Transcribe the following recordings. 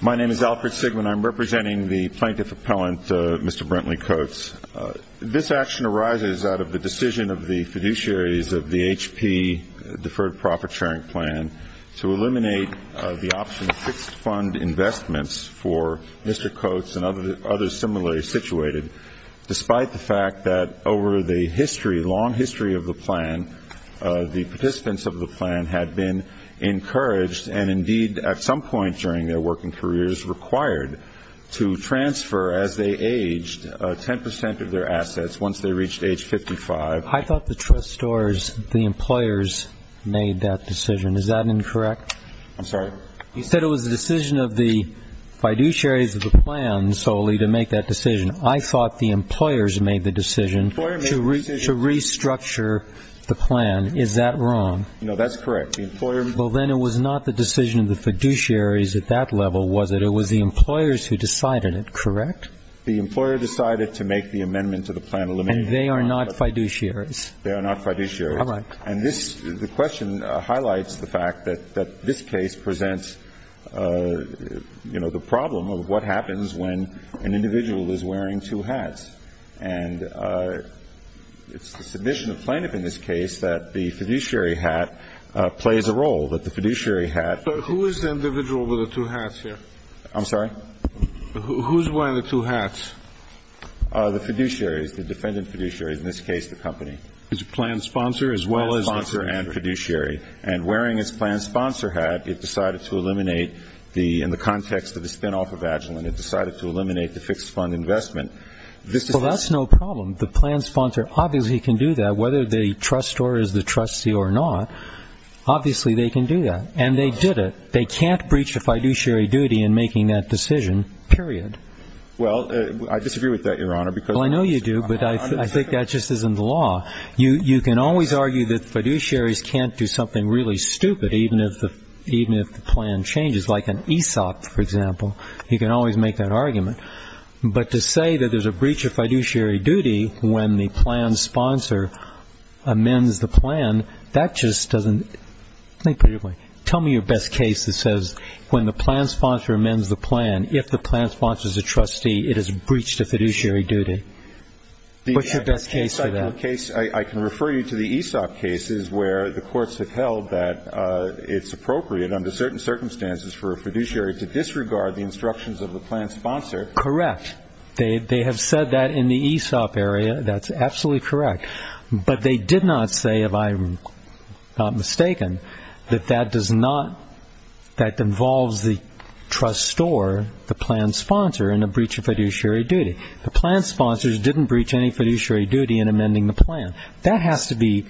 My name is Alfred Sigman. I'm representing the Plaintiff Appellant, Mr. Brentley Coates. This action arises out of the decision of the fiduciaries of the H.P. Deferred Profit Sharing Plan to eliminate the option of fixed fund investments for Mr. Coates and others similarly situated, despite the fact that over the long history of the plan, the participants of the plan had been encouraged and indeed at some point during their working careers required to transfer, as they aged, 10% of their assets once they reached age 55. I thought the employers made that decision. Is that incorrect? I'm sorry? You said it was the decision of the fiduciaries of the plan solely to make that decision. I thought the employers made the decision to restructure the plan. Is that wrong? No, that's correct. The employers Well, then it was not the decision of the fiduciaries at that level, was it? It was the employers who decided it, correct? The employer decided to make the amendment to the plan to eliminate the option And they are not fiduciaries? They are not fiduciaries. All right. And this question highlights the fact that this case presents, you know, the problem of what happens when an individual is wearing two hats. And it's the submission of the plaintiff in this case that the fiduciary hat plays a role, that the fiduciary hat So who is the individual with the two hats here? I'm sorry? Who's wearing the two hats? The fiduciaries, the defendant fiduciaries, in this case the company. It's a plan sponsor as well as the It's a plan sponsor and fiduciary. And wearing its plan sponsor hat, it decided to eliminate the, in the context of the spinoff of Agilent, it decided to eliminate the fixed fund investment. This is Well, that's no problem. The plan sponsor obviously can do that, whether they trust or is the trustee or not. Obviously, they can do that. And they did it. They can't breach the fiduciary duty in making that decision, period. Well, I disagree with that, Your Honor, because Well, I know you do, but I think that just isn't the law. You can always argue that fiduciaries can't do something really stupid, even if the plan changes. Like an ESOP, for example, you can always make that argument. But to say that there's a breach of fiduciary duty when the plan sponsor amends the plan, that just doesn't, let me put it another way. Tell me your best case that says when the plan sponsor amends the plan, if the plan sponsor is a trustee, it is a breach to fiduciary duty. What's your best case for that? I can refer you to the ESOP cases where the courts have held that it's appropriate under certain circumstances for a fiduciary to disregard the instructions of the plan sponsor. Correct. They have said that in the ESOP area. That's absolutely correct. But they did not say, if I'm not mistaken, that that does not, that involves the trust store, the plan sponsor, in a breach of fiduciary duty. The plan sponsors didn't breach any fiduciary duty in amending the plan. That has to be,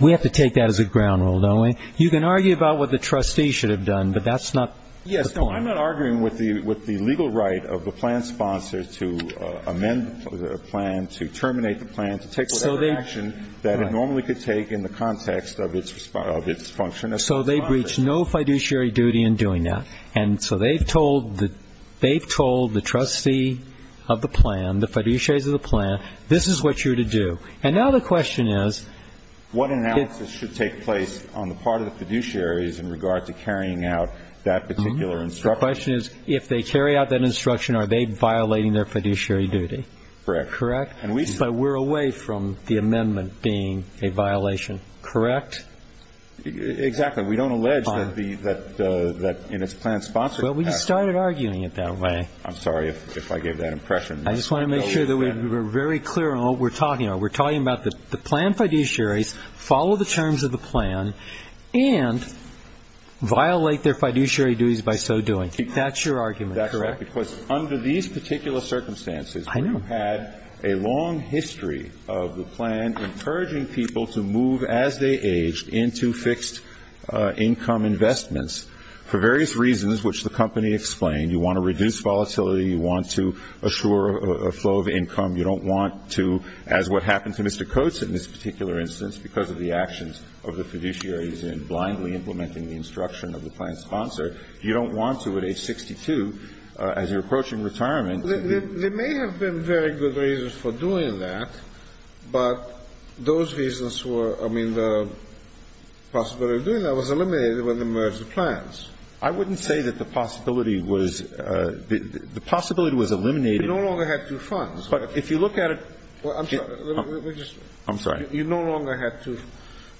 we have to take that as a ground rule, don't we? You can argue about what the trustee should have done, but that's not the point. Yes, no, I'm not arguing with the legal right of the plan sponsor to amend the plan, to terminate the plan, to take whatever action that it normally could take in the context of its function as a sponsor. So they breached no fiduciary duty in doing that. And so they've told the trustee of the plan, the fiduciaries of the plan, this is what you're to do. And now the question is what analysis should take place on the part of the fiduciaries in regard to carrying out that particular instruction? The question is, if they carry out that instruction, are they violating their fiduciary duty? Correct. Correct? But we're away from the amendment being a violation, correct? Exactly. We don't allege that the, that in its plan sponsor capacity. Well, we just started arguing it that way. I'm sorry if I gave that impression. I just want to make sure that we're very clear on what we're talking about. We're talking about the plan fiduciaries follow the terms of the plan and violate their fiduciary duties by so doing. That's your argument. That's correct. Because under these particular circumstances, we've had a long history of the plan encouraging people to move as they age into fixed income investments for various reasons which the company explained. You want to reduce volatility. You want to assure a low of income. You don't want to, as what happened to Mr. Coates in this particular instance because of the actions of the fiduciaries in blindly implementing the instruction of the plan sponsor, you don't want to, at age 62, as you're approaching retirement They may have been very good reasons for doing that, but those reasons were, I mean, the possibility of doing that was eliminated when they merged the plans. I wouldn't say that the possibility was, the possibility was eliminated You no longer had two funds, but if you look at it, I'm sorry, you no longer had two,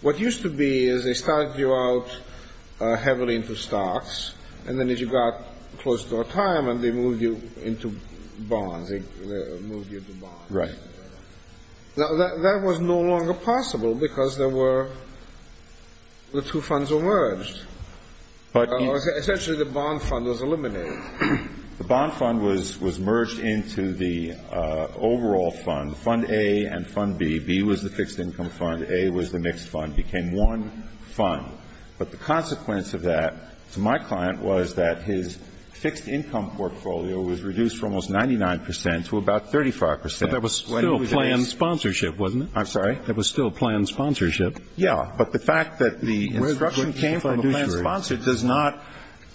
what used to be is they started you out heavily into stocks and then as you got close to retirement they moved you into bonds, they moved you to bonds. That was no longer possible because there were, the two funds were merged. Essentially the bond fund was eliminated. The bond fund was merged into the overall fund, fund A and fund B. B was the fixed income fund. A was the mixed fund. It became one fund. But the consequence of that to my client was that his fixed income portfolio was reduced from almost 99 percent to about 35 percent. But that was still planned sponsorship, wasn't it? I'm sorry. That was still planned sponsorship. Yeah, but the fact that the instruction came from the plan sponsor does not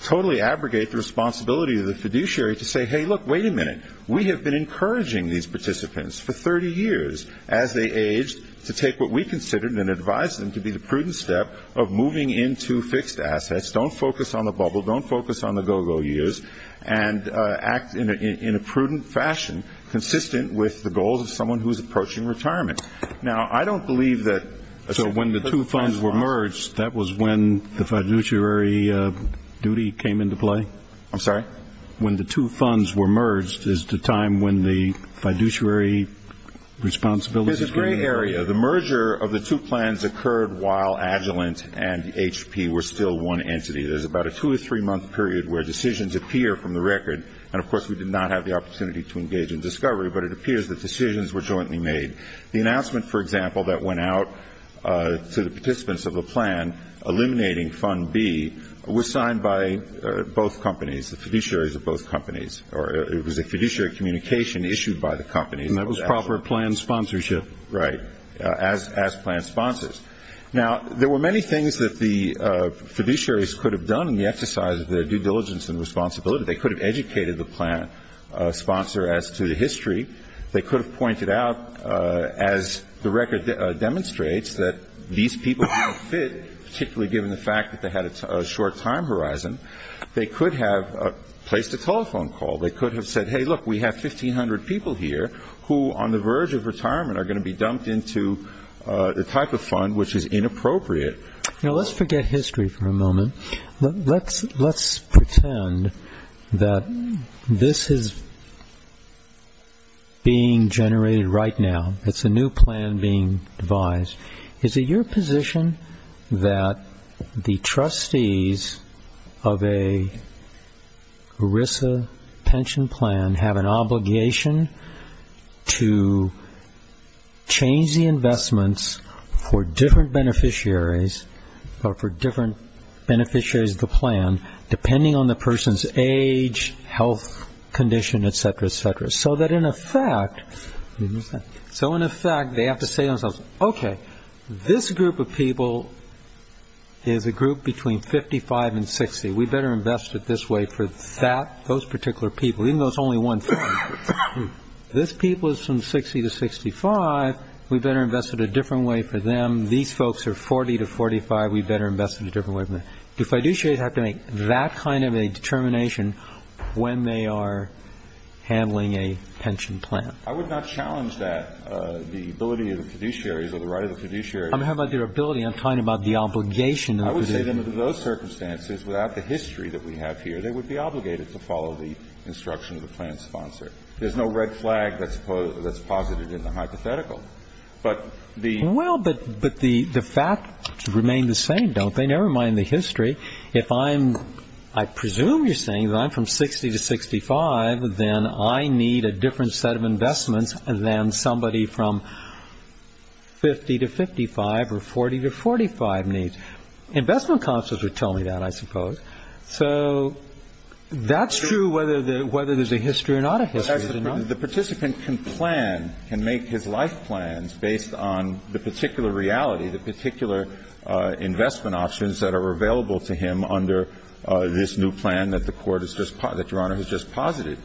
totally abrogate the responsibility of the fiduciary to say, hey, look, wait a minute, we have been encouraging these participants for 30 years as they aged to take what we considered and advised them to be the prudent step of moving into fixed assets, don't focus on the bubble, don't focus on the go-go years, and act in a prudent fashion consistent with the goals of someone who is approaching retirement. Now, I don't believe that So when the two funds were merged, that was when the fiduciary duty came into play? I'm sorry? When the two funds were merged is the time when the fiduciary responsibility There's a gray area. The merger of the two plans occurred while Agilent and HP were still one entity. There's about a two or three month period where decisions appear from the record, and of course we did not have the opportunity to engage in discovery, but it appears that to the participants of the plan, eliminating fund B was signed by both companies, the fiduciaries of both companies, or it was a fiduciary communication issued by the companies And that was proper plan sponsorship? Right. As plan sponsors. Now, there were many things that the fiduciaries could have done in the exercise of their due diligence and responsibility. They could have educated the plan sponsor as to the history. They could have pointed out, as the record demonstrates, that these people didn't fit, particularly given the fact that they had a short time horizon. They could have placed a telephone call. They could have said, hey, look, we have 1,500 people here who, on the verge of retirement, are going to be dumped into the type of fund which is inappropriate Let's forget history for a moment. Let's pretend that this is being generated right now. It's a new plan being devised. Is it your position that the trustees of a ERISA pension plan have an obligation to change the investments for different beneficiaries, and that the different beneficiaries of the plan, depending on the person's age, health condition, etc., etc., so that, in effect, they have to say to themselves, OK, this group of people is a group between 55 and 60. We better invest it this way for that, those particular people, even though it's only one family. This people is from 60 to 65. We better invest it a different way for them. These folks are 40 to 45. We better invest it a different way for them. Do fiduciaries have to make that kind of a determination when they are handling a pension plan? I would not challenge that. The ability of the fiduciaries or the right of the fiduciaries I'm talking about their ability. I'm talking about the obligation of the fiduciaries. I would say that under those circumstances, without the history that we have here, they would be obligated to follow the instruction of the plan sponsor. There's no red flag that's posited in the hypothetical. Well, but the facts remain the same, don't they? Never mind the history. If I'm, I presume you're saying that I'm from 60 to 65, then I need a different set of investments than somebody from 50 to 55 or 40 to 45 needs. Investment counselors would tell me that, I suppose. So that's true whether there's a history or not a history. The participant can plan, can make his life plans based on the particular reality, the particular investment options that are available to him under this new plan that the Court has just, that Your Honor has just posited.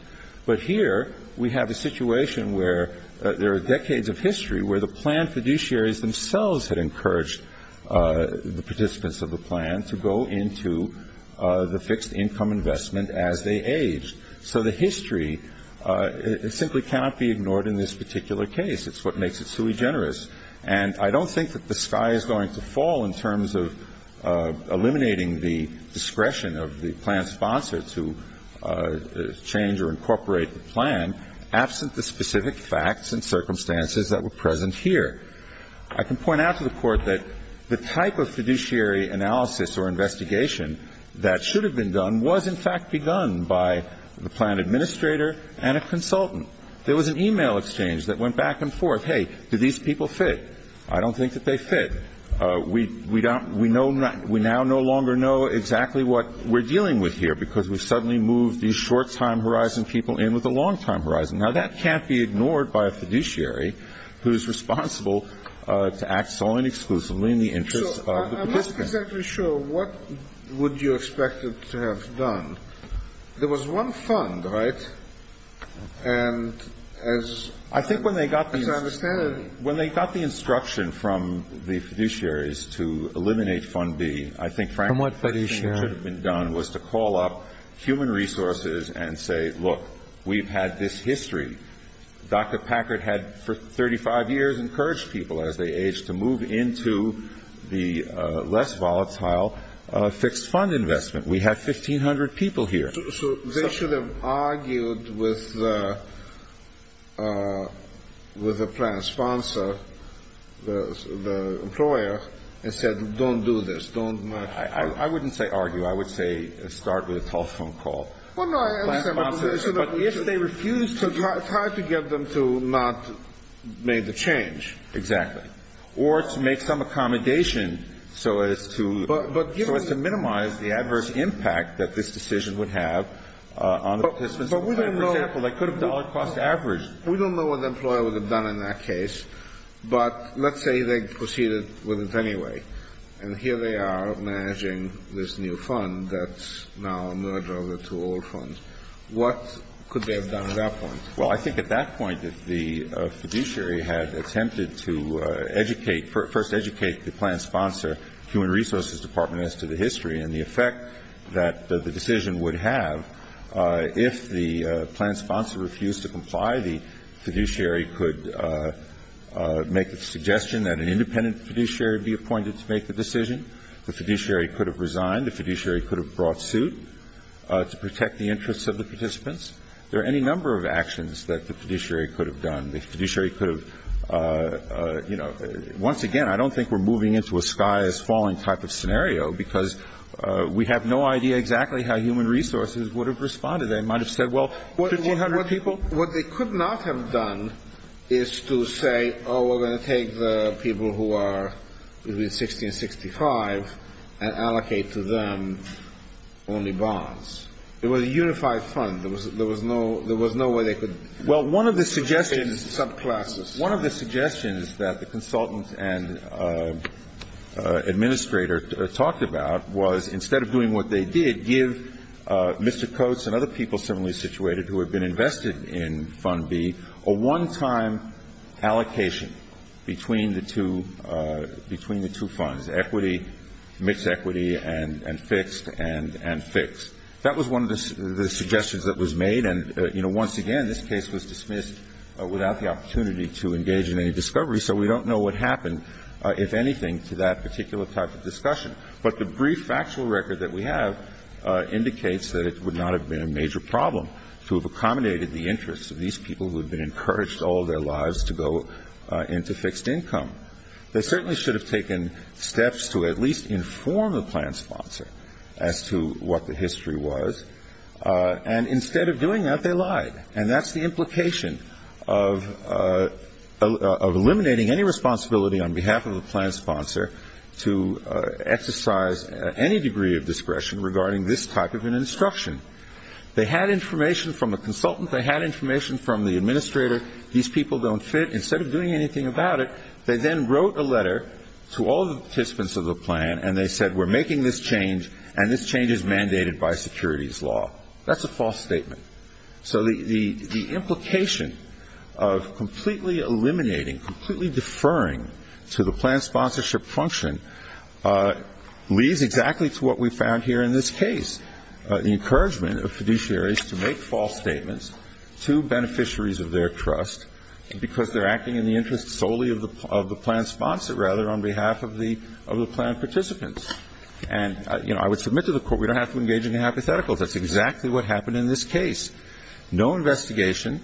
But here we have a situation where there are decades of history where the plan fiduciaries themselves had encouraged the participants of the plan to go into the fixed income investment as they aged. So the history simply cannot be ignored in this particular case. It's what makes it sui generis. And I don't think that the sky is going to fall in terms of eliminating the discretion of the plan sponsor to change or incorporate the plan absent the specific facts and circumstances that were present here. I can point out to the Court that the type of fiduciary analysis or investigation that should have been done was, in fact, begun by the plan administrator and a consultant. There was an e-mail exchange that went back and forth. Hey, do these people fit? I don't think that they fit. We now no longer know exactly what we're dealing with here because we've suddenly moved these short-time horizon people in with the long-time horizon. Now, that can't be ignored by a fiduciary who's responsible to act solely and exclusively in the interest of the participants. So I'm not exactly sure what would you expect it to have done. There was one fund, right? And as I understand it — I think when they got the instruction from the fiduciaries to eliminate Fund B, I think frankly — From what fiduciary? — the first thing that should have been done was to call up human resources and say, look, we've had this history. Dr. Packard had for 35 years encouraged people as they age to move into the less volatile fixed fund investment. We have 1,500 people here. So they should have argued with the plan sponsor, the employer, and said, don't do this. Don't — I wouldn't say argue. I would say start with a telephone call. Well, no, I understand. But if they refuse to — It's hard to get them to not make the change. Exactly. Or to make some accommodation so as to minimize the adverse impact that this decision would have on the participants. But we don't know — For example, they could have dollar-cost averaged. We don't know what the employer would have done in that case. But let's say they proceeded with it anyway. And here they are managing this new fund that's now a merger of the two old funds. What could they have done at that point? Well, I think at that point that the fiduciary had attempted to educate — first educate the plan sponsor, human resources department, as to the history and the effect that the decision would have if the plan sponsor refused to comply. The fiduciary could make the suggestion that an independent fiduciary be appointed to make the decision. The fiduciary could have resigned. The fiduciary could have brought suit to protect the interests of the participants. There are any number of actions that the fiduciary could have done. The fiduciary could have — you know, once again, I don't think we're moving into a sky-is-falling type of scenario because we have no idea exactly how human resources would have responded. They might have said, well, 1,500 people — What they could not have done is to say, oh, we're going to take the people who are between 60 and 65 and allocate to them only bonds. It was a unified fund. There was no — there was no way they could — Well, one of the suggestions — Subclasses. One of the suggestions that the consultant and administrator talked about was instead of doing what they did, give Mr. Coates and other people similarly situated who had been invested in Fund B a one-time allocation between the two — between the two funds, equity — mixed equity and fixed and fixed. That was one of the suggestions that was made. And, you know, once again, this case was dismissed without the opportunity to engage in any discovery, so we don't know what happened, if anything, to that particular type of discussion. But the brief factual record that we have indicates that it would not have been a major problem to have accommodated the interests of these people who had been encouraged all their lives to go into fixed income. They certainly should have taken steps to at least inform the plan sponsor as to what the history was. And instead of doing that, they lied. And that's the implication of eliminating any responsibility on behalf of a plan sponsor to exercise any degree of discretion regarding this type of an instruction. They had information from a consultant. They had information from the administrator. These people don't fit. Instead of doing anything about it, they then wrote a letter to all the participants of the plan, and they said, we're making this change, and this change is mandated by securities law. That's a false statement. So the implication of completely eliminating, completely deferring to the plan sponsorship function leads exactly to what we found here in this case, the encouragement of fiduciaries to make false statements to beneficiaries of their trust because they're acting in the interest solely of the plan sponsor, rather, on behalf of the plan participants. And, you know, I would submit to the Court we don't have to engage in hypotheticals. That's exactly what happened in this case. No investigation,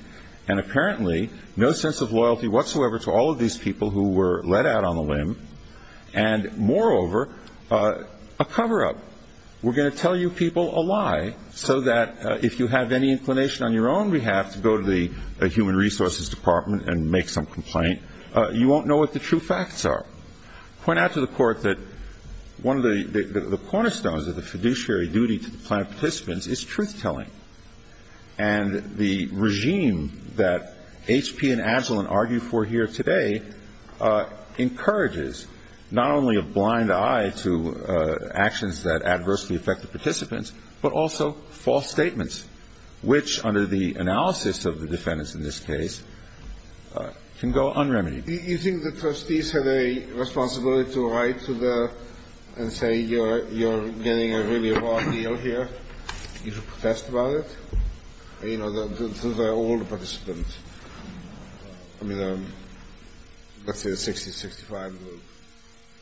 and apparently no sense of loyalty whatsoever to all of these people who were let out on the limb, and moreover, a cover-up. We're going to tell you people a lie so that if you have any inclination on your own behalf to go to the Human Resources Department and make some complaint, you won't know what the true facts are. Point out to the Court that one of the cornerstones of the fiduciary duty to the plan participants is truth-telling. And the regime that HP and Agilent argue for here today encourages not only a blind eye to actions that adversely affect the participants, but also false statements, which, under the analysis of the defendants in this case, can go un-remedied. You think the trustees have a responsibility to write to the – and say you're getting a really raw deal here? You should protest about it? You know, to the old participants. I mean, let's say the 60, 65 group.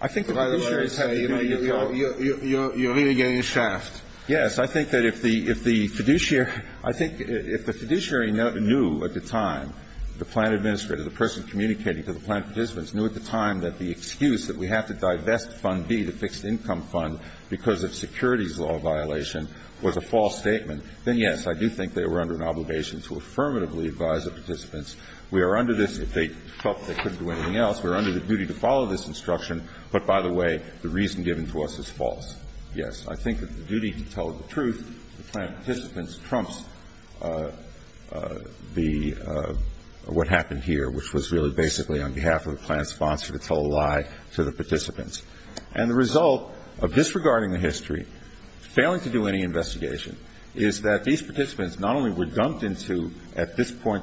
I think the fiduciaries say, you know, you're really getting a shaft. Yes, I think that if the – if the fiduciary – I think if the fiduciary knew at the time, the plan administrator, the person communicating to the plan participants knew at the time that the excuse that we have to divest Fund B, the fixed income fund, because of securities law violation was a false statement, then, yes, I do think they were under an obligation to affirmatively advise the participants, we are under this – if they felt they couldn't do anything else, we are under the duty to follow this instruction, but by the way, the reason given to us is false. Yes, I think that the duty to tell the truth to the plan participants trumps the – what happened here, which was really basically on behalf of the plan sponsor to tell a lie to the participants. And the result of disregarding the history, failing to do any investigation, is that these participants not only were dumped into, at this point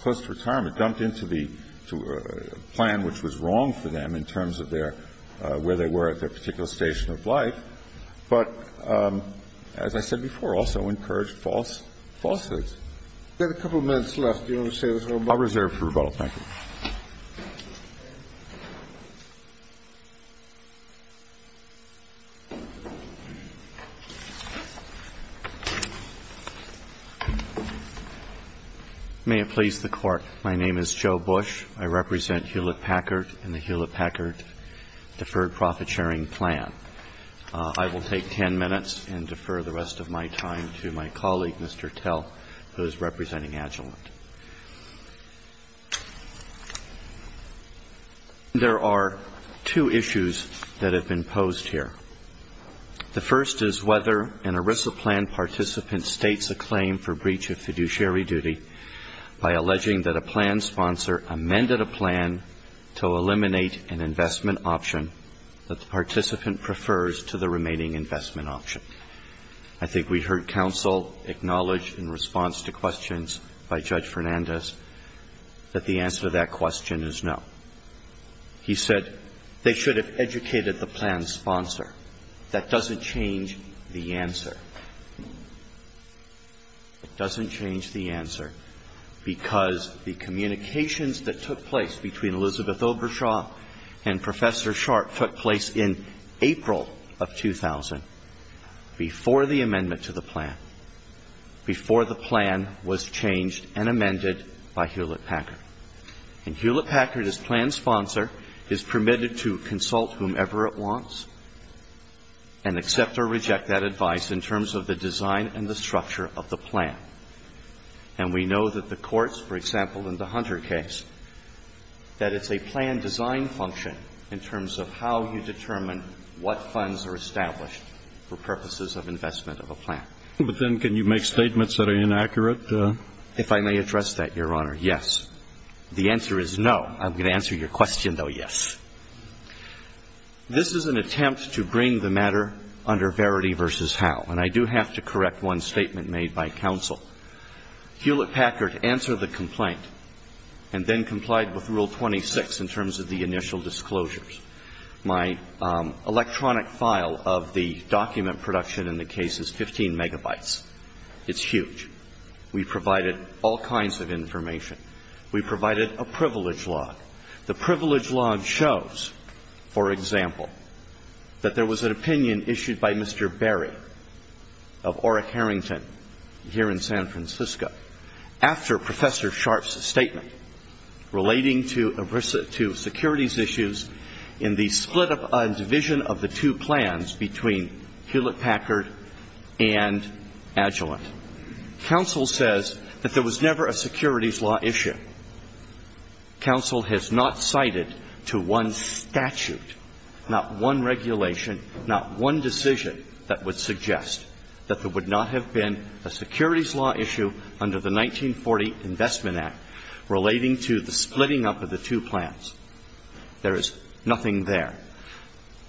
close to retirement, dumped into the – to a plan which was wrong for them in terms of their – where they were at their particular station of life, but, as I said before, also encouraged falsehoods. We have a couple of minutes left. Do you want to say a little more? I'll reserve for rebuttal. Thank you. May it please the Court. My name is Joe Bush. I represent Hewlett-Packard and the Hewlett-Packard Deferred Profit Sharing Plan. I will take ten minutes and defer the rest of my time to my colleague, Mr. Tell, who is representing Agilent. There are two issues that have been posed here. The first is whether an ERISA plan participant states a claim for breach of fiduciary duty by alleging that a plan sponsor amended a plan to eliminate an investment option that the participant prefers to the remaining investment option. I think we heard counsel acknowledge in response to questions by Judge Fernandez that the answer to that question is no. He said they should have educated the plan sponsor. That doesn't change the answer. It doesn't change the answer because the communications that took place between Elizabeth Obershaw and Professor Sharp took place in April of 2000, before the amendment to the plan, before the plan was changed and amended by Hewlett-Packard. And Hewlett-Packard, as plan sponsor, is permitted to consult whomever it wants and accept or reject that advice in terms of the design and the structure of the plan. And we know that the courts, for example, in the Hunter case, that it's a plan design function in terms of how you determine what funds are established for purposes of investment of a plan. But then can you make statements that are inaccurate? If I may address that, Your Honor, yes. The answer is no. I'm going to answer your question, though, yes. This is an attempt to bring the matter under verity versus how. And I do have to correct one statement made by counsel. Hewlett-Packard answered the complaint and then complied with Rule 26 in terms of the initial disclosures. My electronic file of the document production in the case is 15 megabytes. It's huge. We provided all kinds of information. We provided a privilege log. The privilege log shows, for example, that there was an opinion issued by Mr. Berry of Orrick Harrington here in San Francisco after Professor Sharpe's statement relating to securities issues in the split-up and division of the two plans between Hewlett-Packard and Agilent. Counsel says that there was never a securities law issue. Counsel has not cited to one statute, not one regulation, not one decision that would suggest that there would not have been a securities law issue under the 1940 Investment Act relating to the splitting up of the two plans. There is nothing there.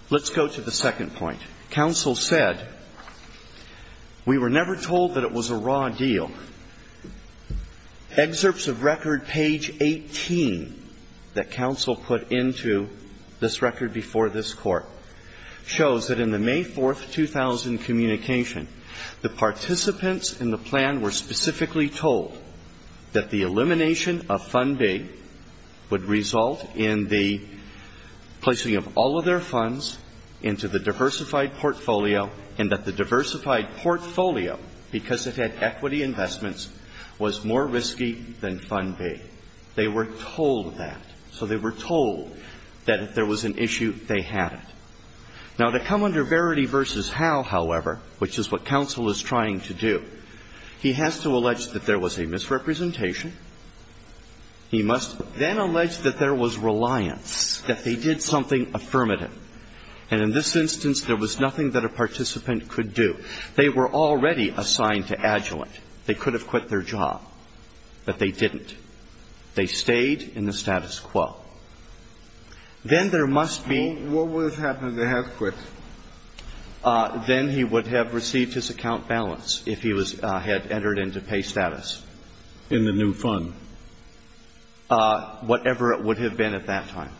Let's go to the second point. Counsel said, we were never told that it was a raw deal. Excerpts of record page 18 that counsel put into this record before this Court shows that in the May 4, 2000 communication, the participants in the plan were specifically told that the elimination of Fund B would result in the placing of all of their funds into the diversified portfolio and that the diversified portfolio, because it had equity investments, was more risky than Fund B. They were told that. So they were told that if there was an issue, they had it. Now, to come under Verity v. Howe, however, which is what counsel is trying to do, he has to allege that there was a misrepresentation. He must then allege that there was reliance, that they did something affirmative. And in this instance, there was nothing that a participant could do. They were already assigned to Agilent. They could have quit their job, but they didn't. They stayed in the status quo. Then there must be ---- What would have happened if they had quit? Then he would have received his account balance if he had entered into pay status. In the new fund? Whatever it would have been at that time.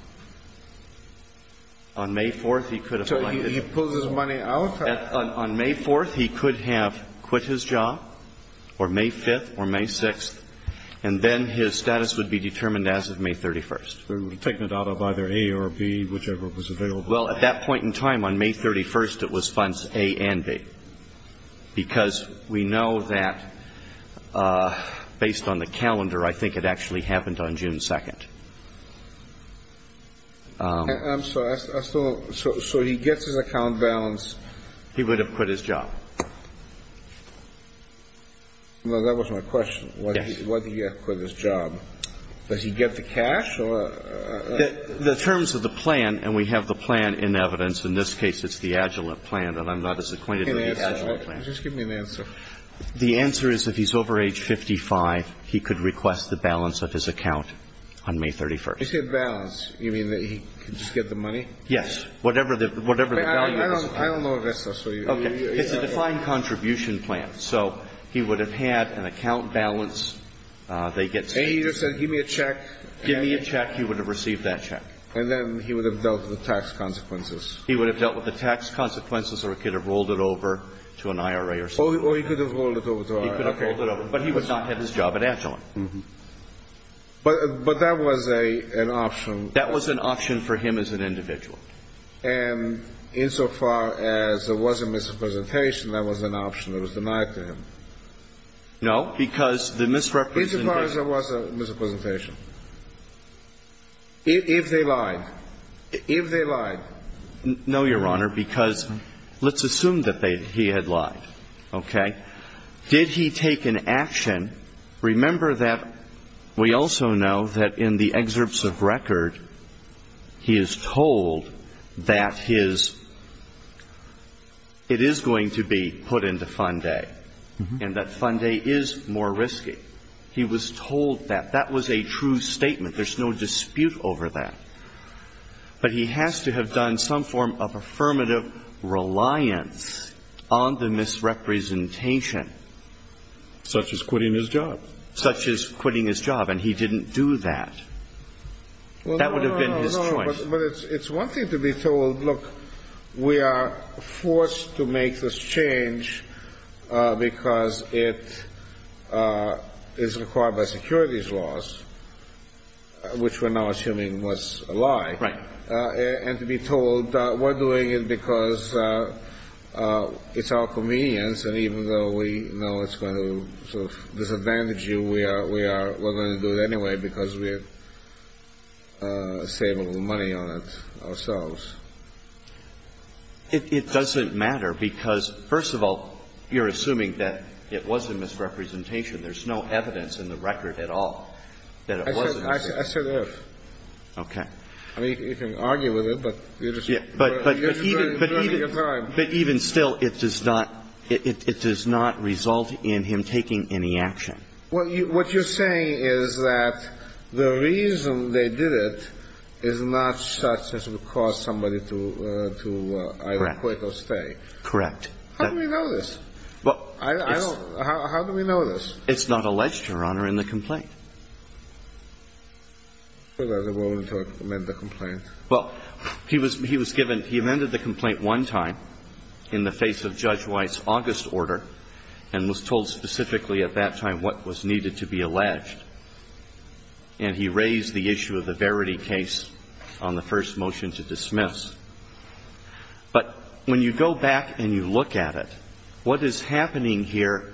On May 4th, he could have ---- So he pulls his money out? On May 4th, he could have quit his job, or May 5th, or May 6th, and then his status would be determined as of May 31st. They would have taken it out of either A or B, whichever was available. Well, at that point in time, on May 31st, it was funds A and B, because we know that based on the calendar, I think it actually happened on June 2nd. I'm sorry. So he gets his account balance. He would have quit his job. That was my question. Yes. Why did he have to quit his job? Does he get the cash? The terms of the plan, and we have the plan in evidence. In this case, it's the Agilent plan, and I'm not as acquainted with the Agilent plan. Just give me an answer. The answer is if he's over age 55, he could request the balance of his account on May 31st. You said balance. You mean that he could just get the money? Yes. Whatever the value is. I don't know if that's what you're ---- Okay. It's a defined contribution plan. So he would have had an account balance. They get ---- And he just said give me a check. Give me a check. He would have received that check. And then he would have dealt with the tax consequences. He would have dealt with the tax consequences, or he could have rolled it over to an IRA or something. Or he could have rolled it over to an IRA. He could have rolled it over. But he would not have his job at Agilent. But that was an option. That was an option for him as an individual. And insofar as there was a misrepresentation, that was an option that was denied to him? No, because the misrepresentation ---- Insofar as there was a misrepresentation. If they lied. If they lied. No, Your Honor, because let's assume that he had lied. Okay? Did he take an action? Remember that we also know that in the excerpts of record, he is told that his ---- it is going to be put into Fund A. And that Fund A is more risky. He was told that. That was a true statement. There's no dispute over that. But he has to have done some form of affirmative reliance on the misrepresentation. Such as quitting his job. Such as quitting his job. And he didn't do that. That would have been his choice. No, but it's one thing to be told, look, we are forced to make this change because it is required by securities laws, which we're now assuming was a lie. Right. And to be told we're doing it because it's our convenience, and even though we know it's going to sort of disadvantage you, we are going to do it anyway because we're saving money on it ourselves. It doesn't matter because, first of all, you're assuming that it was a misrepresentation. There's no evidence in the record at all. I said if. Okay. You can argue with it. But even still, it does not result in him taking any action. What you're saying is that the reason they did it is not such as to cause somebody to either quit or stay. Correct. How do we know this? How do we know this? Well, it's not alleged, Your Honor, in the complaint. Well, he was given, he amended the complaint one time in the face of Judge White's August order and was told specifically at that time what was needed to be alleged. And he raised the issue of the Verity case on the first motion to dismiss. But when you go back and you look at it, what is happening here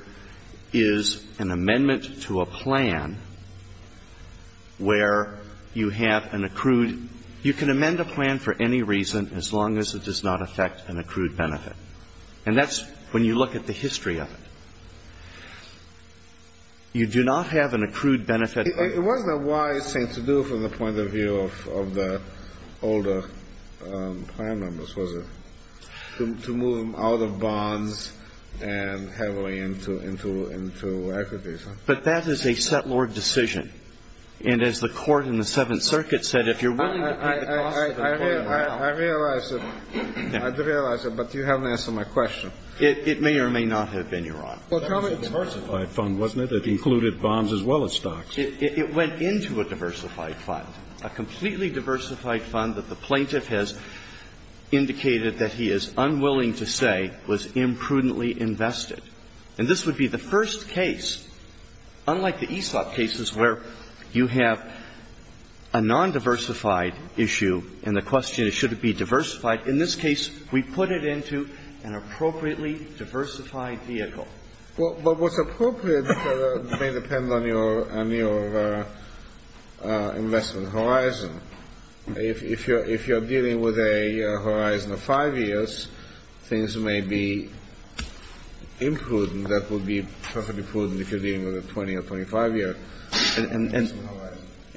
is an amendment to a plan where you have an accrued you can amend a plan for any reason as long as it does not affect an accrued benefit. And that's when you look at the history of it. You do not have an accrued benefit. It wasn't a wise thing to do from the point of view of the older plan members, was it? To move them out of bonds and heavily into equities. But that is a settlor decision. And as the court in the Seventh Circuit said, if you're willing to pay the cost of the plan now. I realize it. I realize it. But you haven't answered my question. It may or may not have been, Your Honor. It was a diversified fund, wasn't it? It included bonds as well as stocks. It went into a diversified fund, a completely diversified fund that the plaintiff has indicated that he is unwilling to say was imprudently invested. And this would be the first case, unlike the Aesop cases where you have a nondiversified issue and the question is should it be diversified, in this case we put it into an appropriately diversified vehicle. Well, what's appropriate may depend on your investment horizon. If you're dealing with a horizon of 5 years, things may be imprudent. That would be perfectly prudent if you're dealing with a 20 or 25-year investment horizon.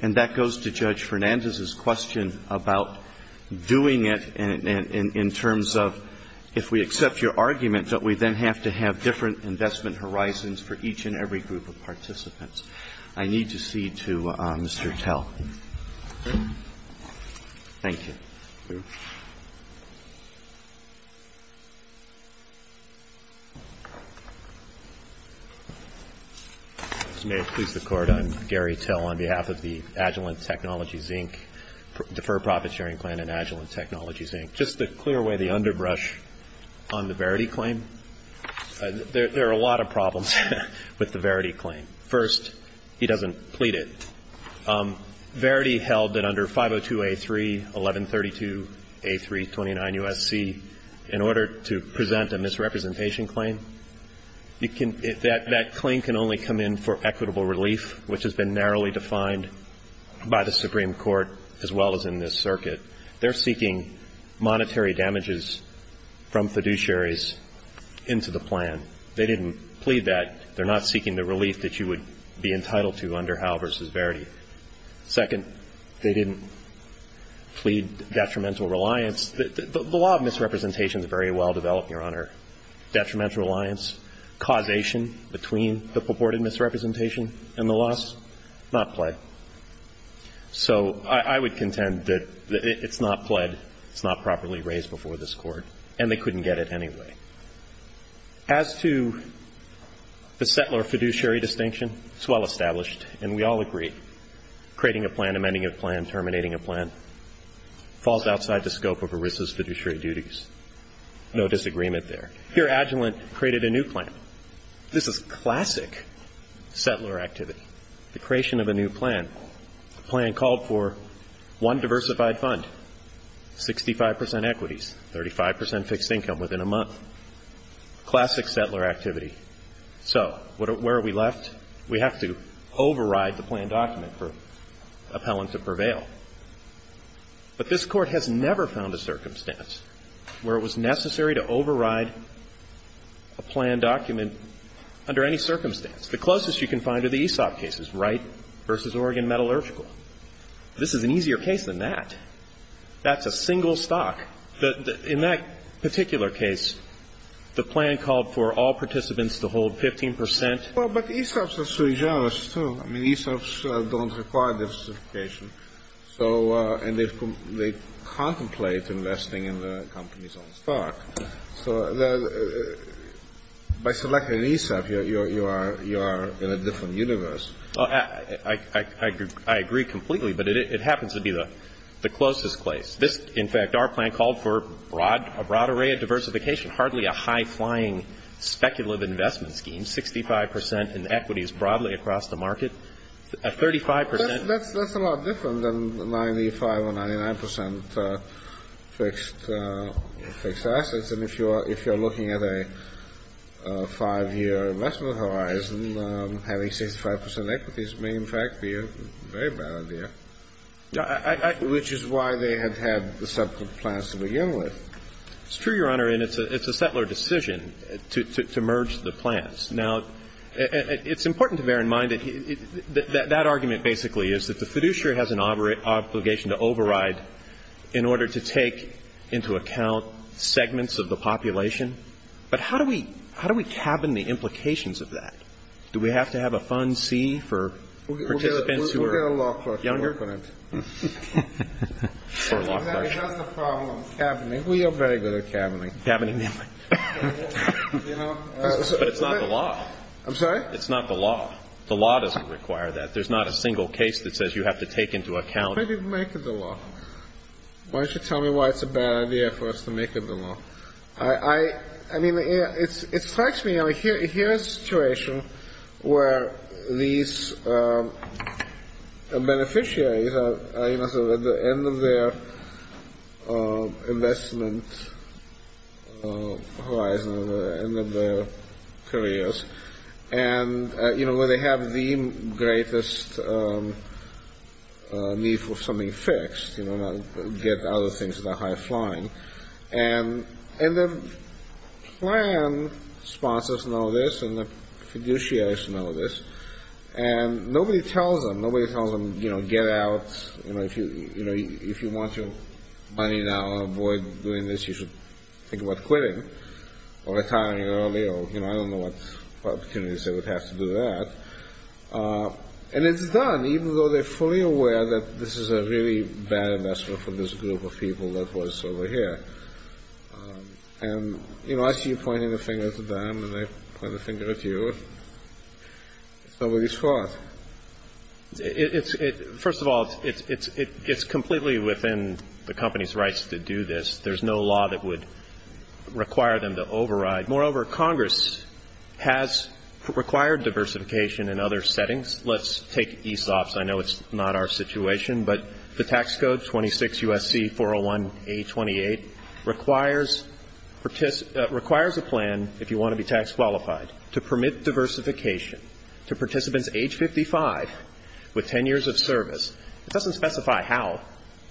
And that goes to Judge Fernandez's question about doing it in terms of if we accept your argument that we then have to have different investment horizons for each and every group of participants. I need to cede to Mr. Tell. Thank you. May it please the Court. I'm Gary Tell on behalf of the Agilent Technologies, Inc., Deferred Profit Sharing Plan and Agilent Technologies, Inc. Just to clear away the underbrush on the Verity claim, there are a lot of problems with the Verity claim. First, he doesn't plead it. Verity held that under 502A3, 1132A3, 29 U.S.C., in order to present a misrepresentation claim, that claim can only come in for equitable relief, which has been narrowly defined by the Supreme Court as well as in this circuit. They're seeking monetary damages from fiduciaries into the plan. They didn't plead that. They're not seeking the relief that you would be entitled to under Howell v. Verity. Second, they didn't plead detrimental reliance. The law of misrepresentation is very well developed, Your Honor. Detrimental reliance, causation between the purported misrepresentation and the loss, not play. So I would contend that it's not pled. It's not properly raised before this Court. And they couldn't get it anyway. As to the settler-fiduciary distinction, it's well established, and we all agree, creating a plan, amending a plan, terminating a plan falls outside the scope of ERISA's fiduciary duties. No disagreement there. Here, Agilent created a new plan. This is classic settler activity. The creation of a new plan. The plan called for one diversified fund, 65 percent equities, 35 percent fixed income within a month. Classic settler activity. So where are we left? We have to override the plan document for appellant to prevail. But this Court has never found a circumstance where it was necessary to override a plan document under any circumstance. The closest you can find are the ESOP cases, Wright v. Oregon Metallurgical. This is an easier case than that. That's a single stock. In that particular case, the plan called for all participants to hold 15 percent. Well, but ESOPs are sui generis, too. I mean, ESOPs don't require diversification, and they contemplate investing in the company's own stock. So by selecting ESOP, you are in a different universe. I agree completely, but it happens to be the closest place. This, in fact, our plan called for a broad array of diversification, hardly a high-flying speculative investment scheme, 65 percent in equities broadly across the market, a 35 percent. That's a lot different than 95 or 99 percent fixed assets. And if you are looking at a 5-year investment horizon, having 65 percent equities may, in fact, be a very bad idea. Which is why they had had the separate plans to begin with. It's true, Your Honor, and it's a settler decision to merge the plans. Now, it's important to bear in mind that that argument, basically, is that the fiduciary has an obligation to override in order to take into account segments of the population. But how do we cabin the implications of that? Do we have to have a fund C for participants who are younger? We'll get a law clerk to work on it. For a law clerk. Exactly. That's the problem. Cabining. We are very good at cabining. Cabining. But it's not the law. I'm sorry? It's not the law. The law doesn't require that. There's not a single case that says you have to take into account. Why didn't you make it the law? Why don't you tell me why it's a bad idea for us to make it the law? I mean, it strikes me. Here is a situation where these beneficiaries are at the end of their investment horizon, at the end of their careers, and, you know, where they have the greatest need for something fixed, you know, not get other things that are high flying. And the plan sponsors know this, and the fiduciaries know this. And nobody tells them. Nobody tells them, you know, get out. You know, if you want your money now, avoid doing this. You should think about quitting or retiring early. Or, you know, I don't know what opportunities they would have to do that. And it's done, even though they're fully aware that this is a really bad investment for this group of people that was over here. And, you know, I see you pointing the finger at them, and I point the finger at you. It's nobody's fault. First of all, it's completely within the company's rights to do this. There's no law that would require them to override. Moreover, Congress has required diversification in other settings. Let's take ESOPs. I know it's not our situation, but the tax code, 26 U.S.C. 401-A28, requires a plan, if you want to be tax qualified, to permit diversification to participants age 55 with 10 years of service. It doesn't specify how.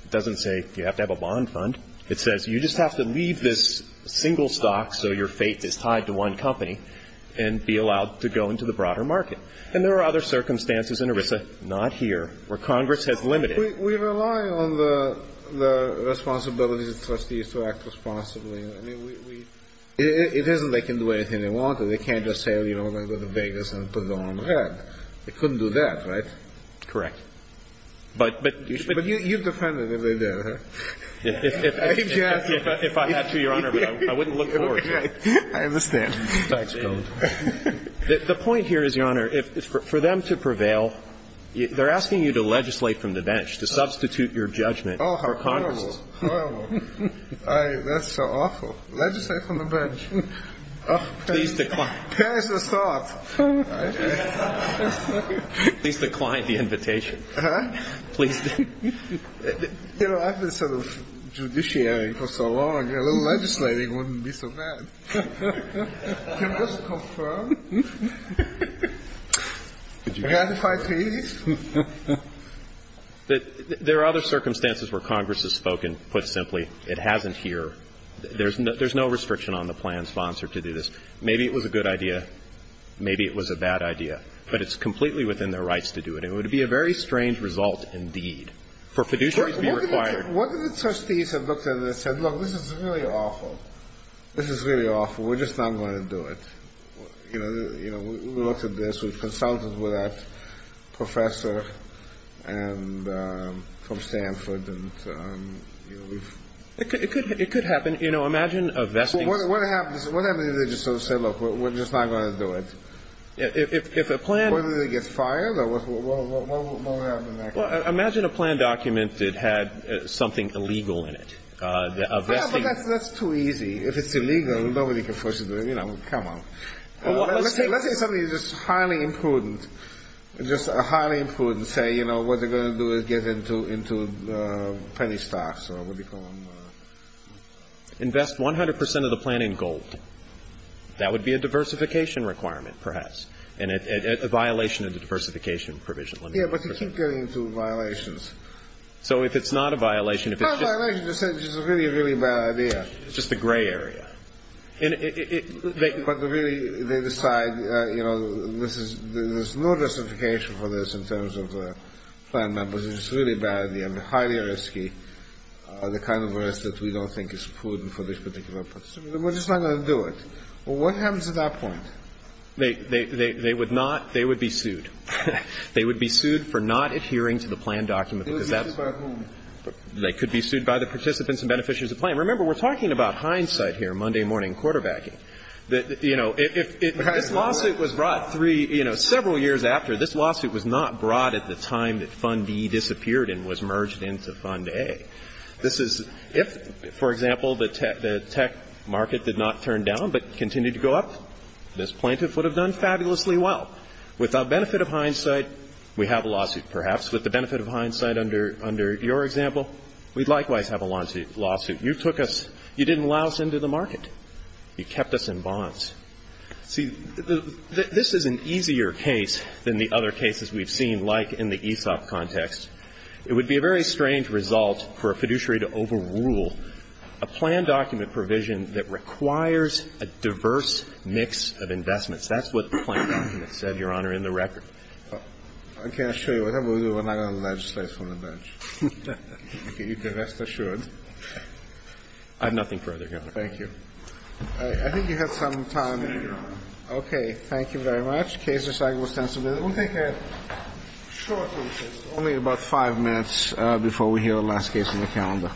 It doesn't say you have to have a bond fund. It says you just have to leave this single stock so your fate is tied to one company and be allowed to go into the broader market. And there are other circumstances in ERISA, not here, where Congress has limited it. We rely on the responsibilities of trustees to act responsibly. I mean, we – it isn't they can do anything they want. They can't just say, you know, we're going to Vegas and put them on the Red. They couldn't do that, right? Correct. But you should – But you'd defend it if they did, huh? If I had to, Your Honor, but I wouldn't look forward to it. I understand. Tax code. The point here is, Your Honor, for them to prevail, they're asking you to legislate from the bench, to substitute your judgment for Congress. Oh, how horrible. Horrible. That's so awful. Legislate from the bench. Please decline. There's a thought. Please decline the invitation. Please decline. You know, I've been sort of judiciary for so long. A little legislating wouldn't be so bad. Can't this confirm? Can't I please? There are other circumstances where Congress has spoken, put simply. It hasn't here. There's no restriction on the plan sponsor to do this. Maybe it was a good idea. Maybe it was a bad idea. But it's completely within their rights to do it. And it would be a very strange result indeed. For fiduciary to be required. What if the trustees have looked at it and said, look, this is really awful. This is really awful. We're just not going to do it. You know, we looked at this. We've consulted with that professor from Stanford. It could happen. You know, imagine a vesting. What happens if they just sort of say, look, we're just not going to do it? If a plan. What, do they get fired? What will happen next? Well, imagine a plan document that had something illegal in it. That's too easy. If it's illegal, nobody can force it. You know, come on. Let's say something just highly imprudent. Just highly imprudent. Say, you know, what they're going to do is get into penny stocks or what do you call them? Invest 100% of the plan in gold. That would be a diversification requirement perhaps. And a violation of the diversification provision. Yeah, but you keep getting into violations. So if it's not a violation, if it's just. It's not a violation. It's just a really, really bad idea. It's just the gray area. But really, they decide, you know, there's no diversification for this in terms of the plan numbers. It's just a really bad idea. I mean, highly risky. The kind of risk that we don't think is prudent for this particular purpose. We're just not going to do it. Well, what happens at that point? They would not. They would be sued. They would be sued for not adhering to the plan document. It would be sued by whom? They could be sued by the participants and beneficiaries of the plan. Remember, we're talking about hindsight here, Monday morning quarterbacking. You know, if this lawsuit was brought three, you know, several years after, this lawsuit was not brought at the time that Fund B disappeared and was merged into Fund A. This is if, for example, the tech market did not turn down but continued to go up, this plaintiff would have done fabulously well. Without benefit of hindsight, we have a lawsuit, perhaps. With the benefit of hindsight under your example, we'd likewise have a lawsuit. You took us – you didn't allow us into the market. You kept us in bonds. See, this is an easier case than the other cases we've seen, like in the ESOP context. It would be a very strange result for a fiduciary to overrule a plan document provision that requires a diverse mix of investments. That's what the plan document said, Your Honor, in the record. Okay. I assure you, whatever we do, we're not going to legislate from the bench. You can rest assured. I have nothing further, Your Honor. Thank you. All right. I think you have some time. Thank you, Your Honor. Okay. Thank you very much. Case recyclable sensibility. We'll take a short recess. Only about five minutes before we hear the last case on the calendar.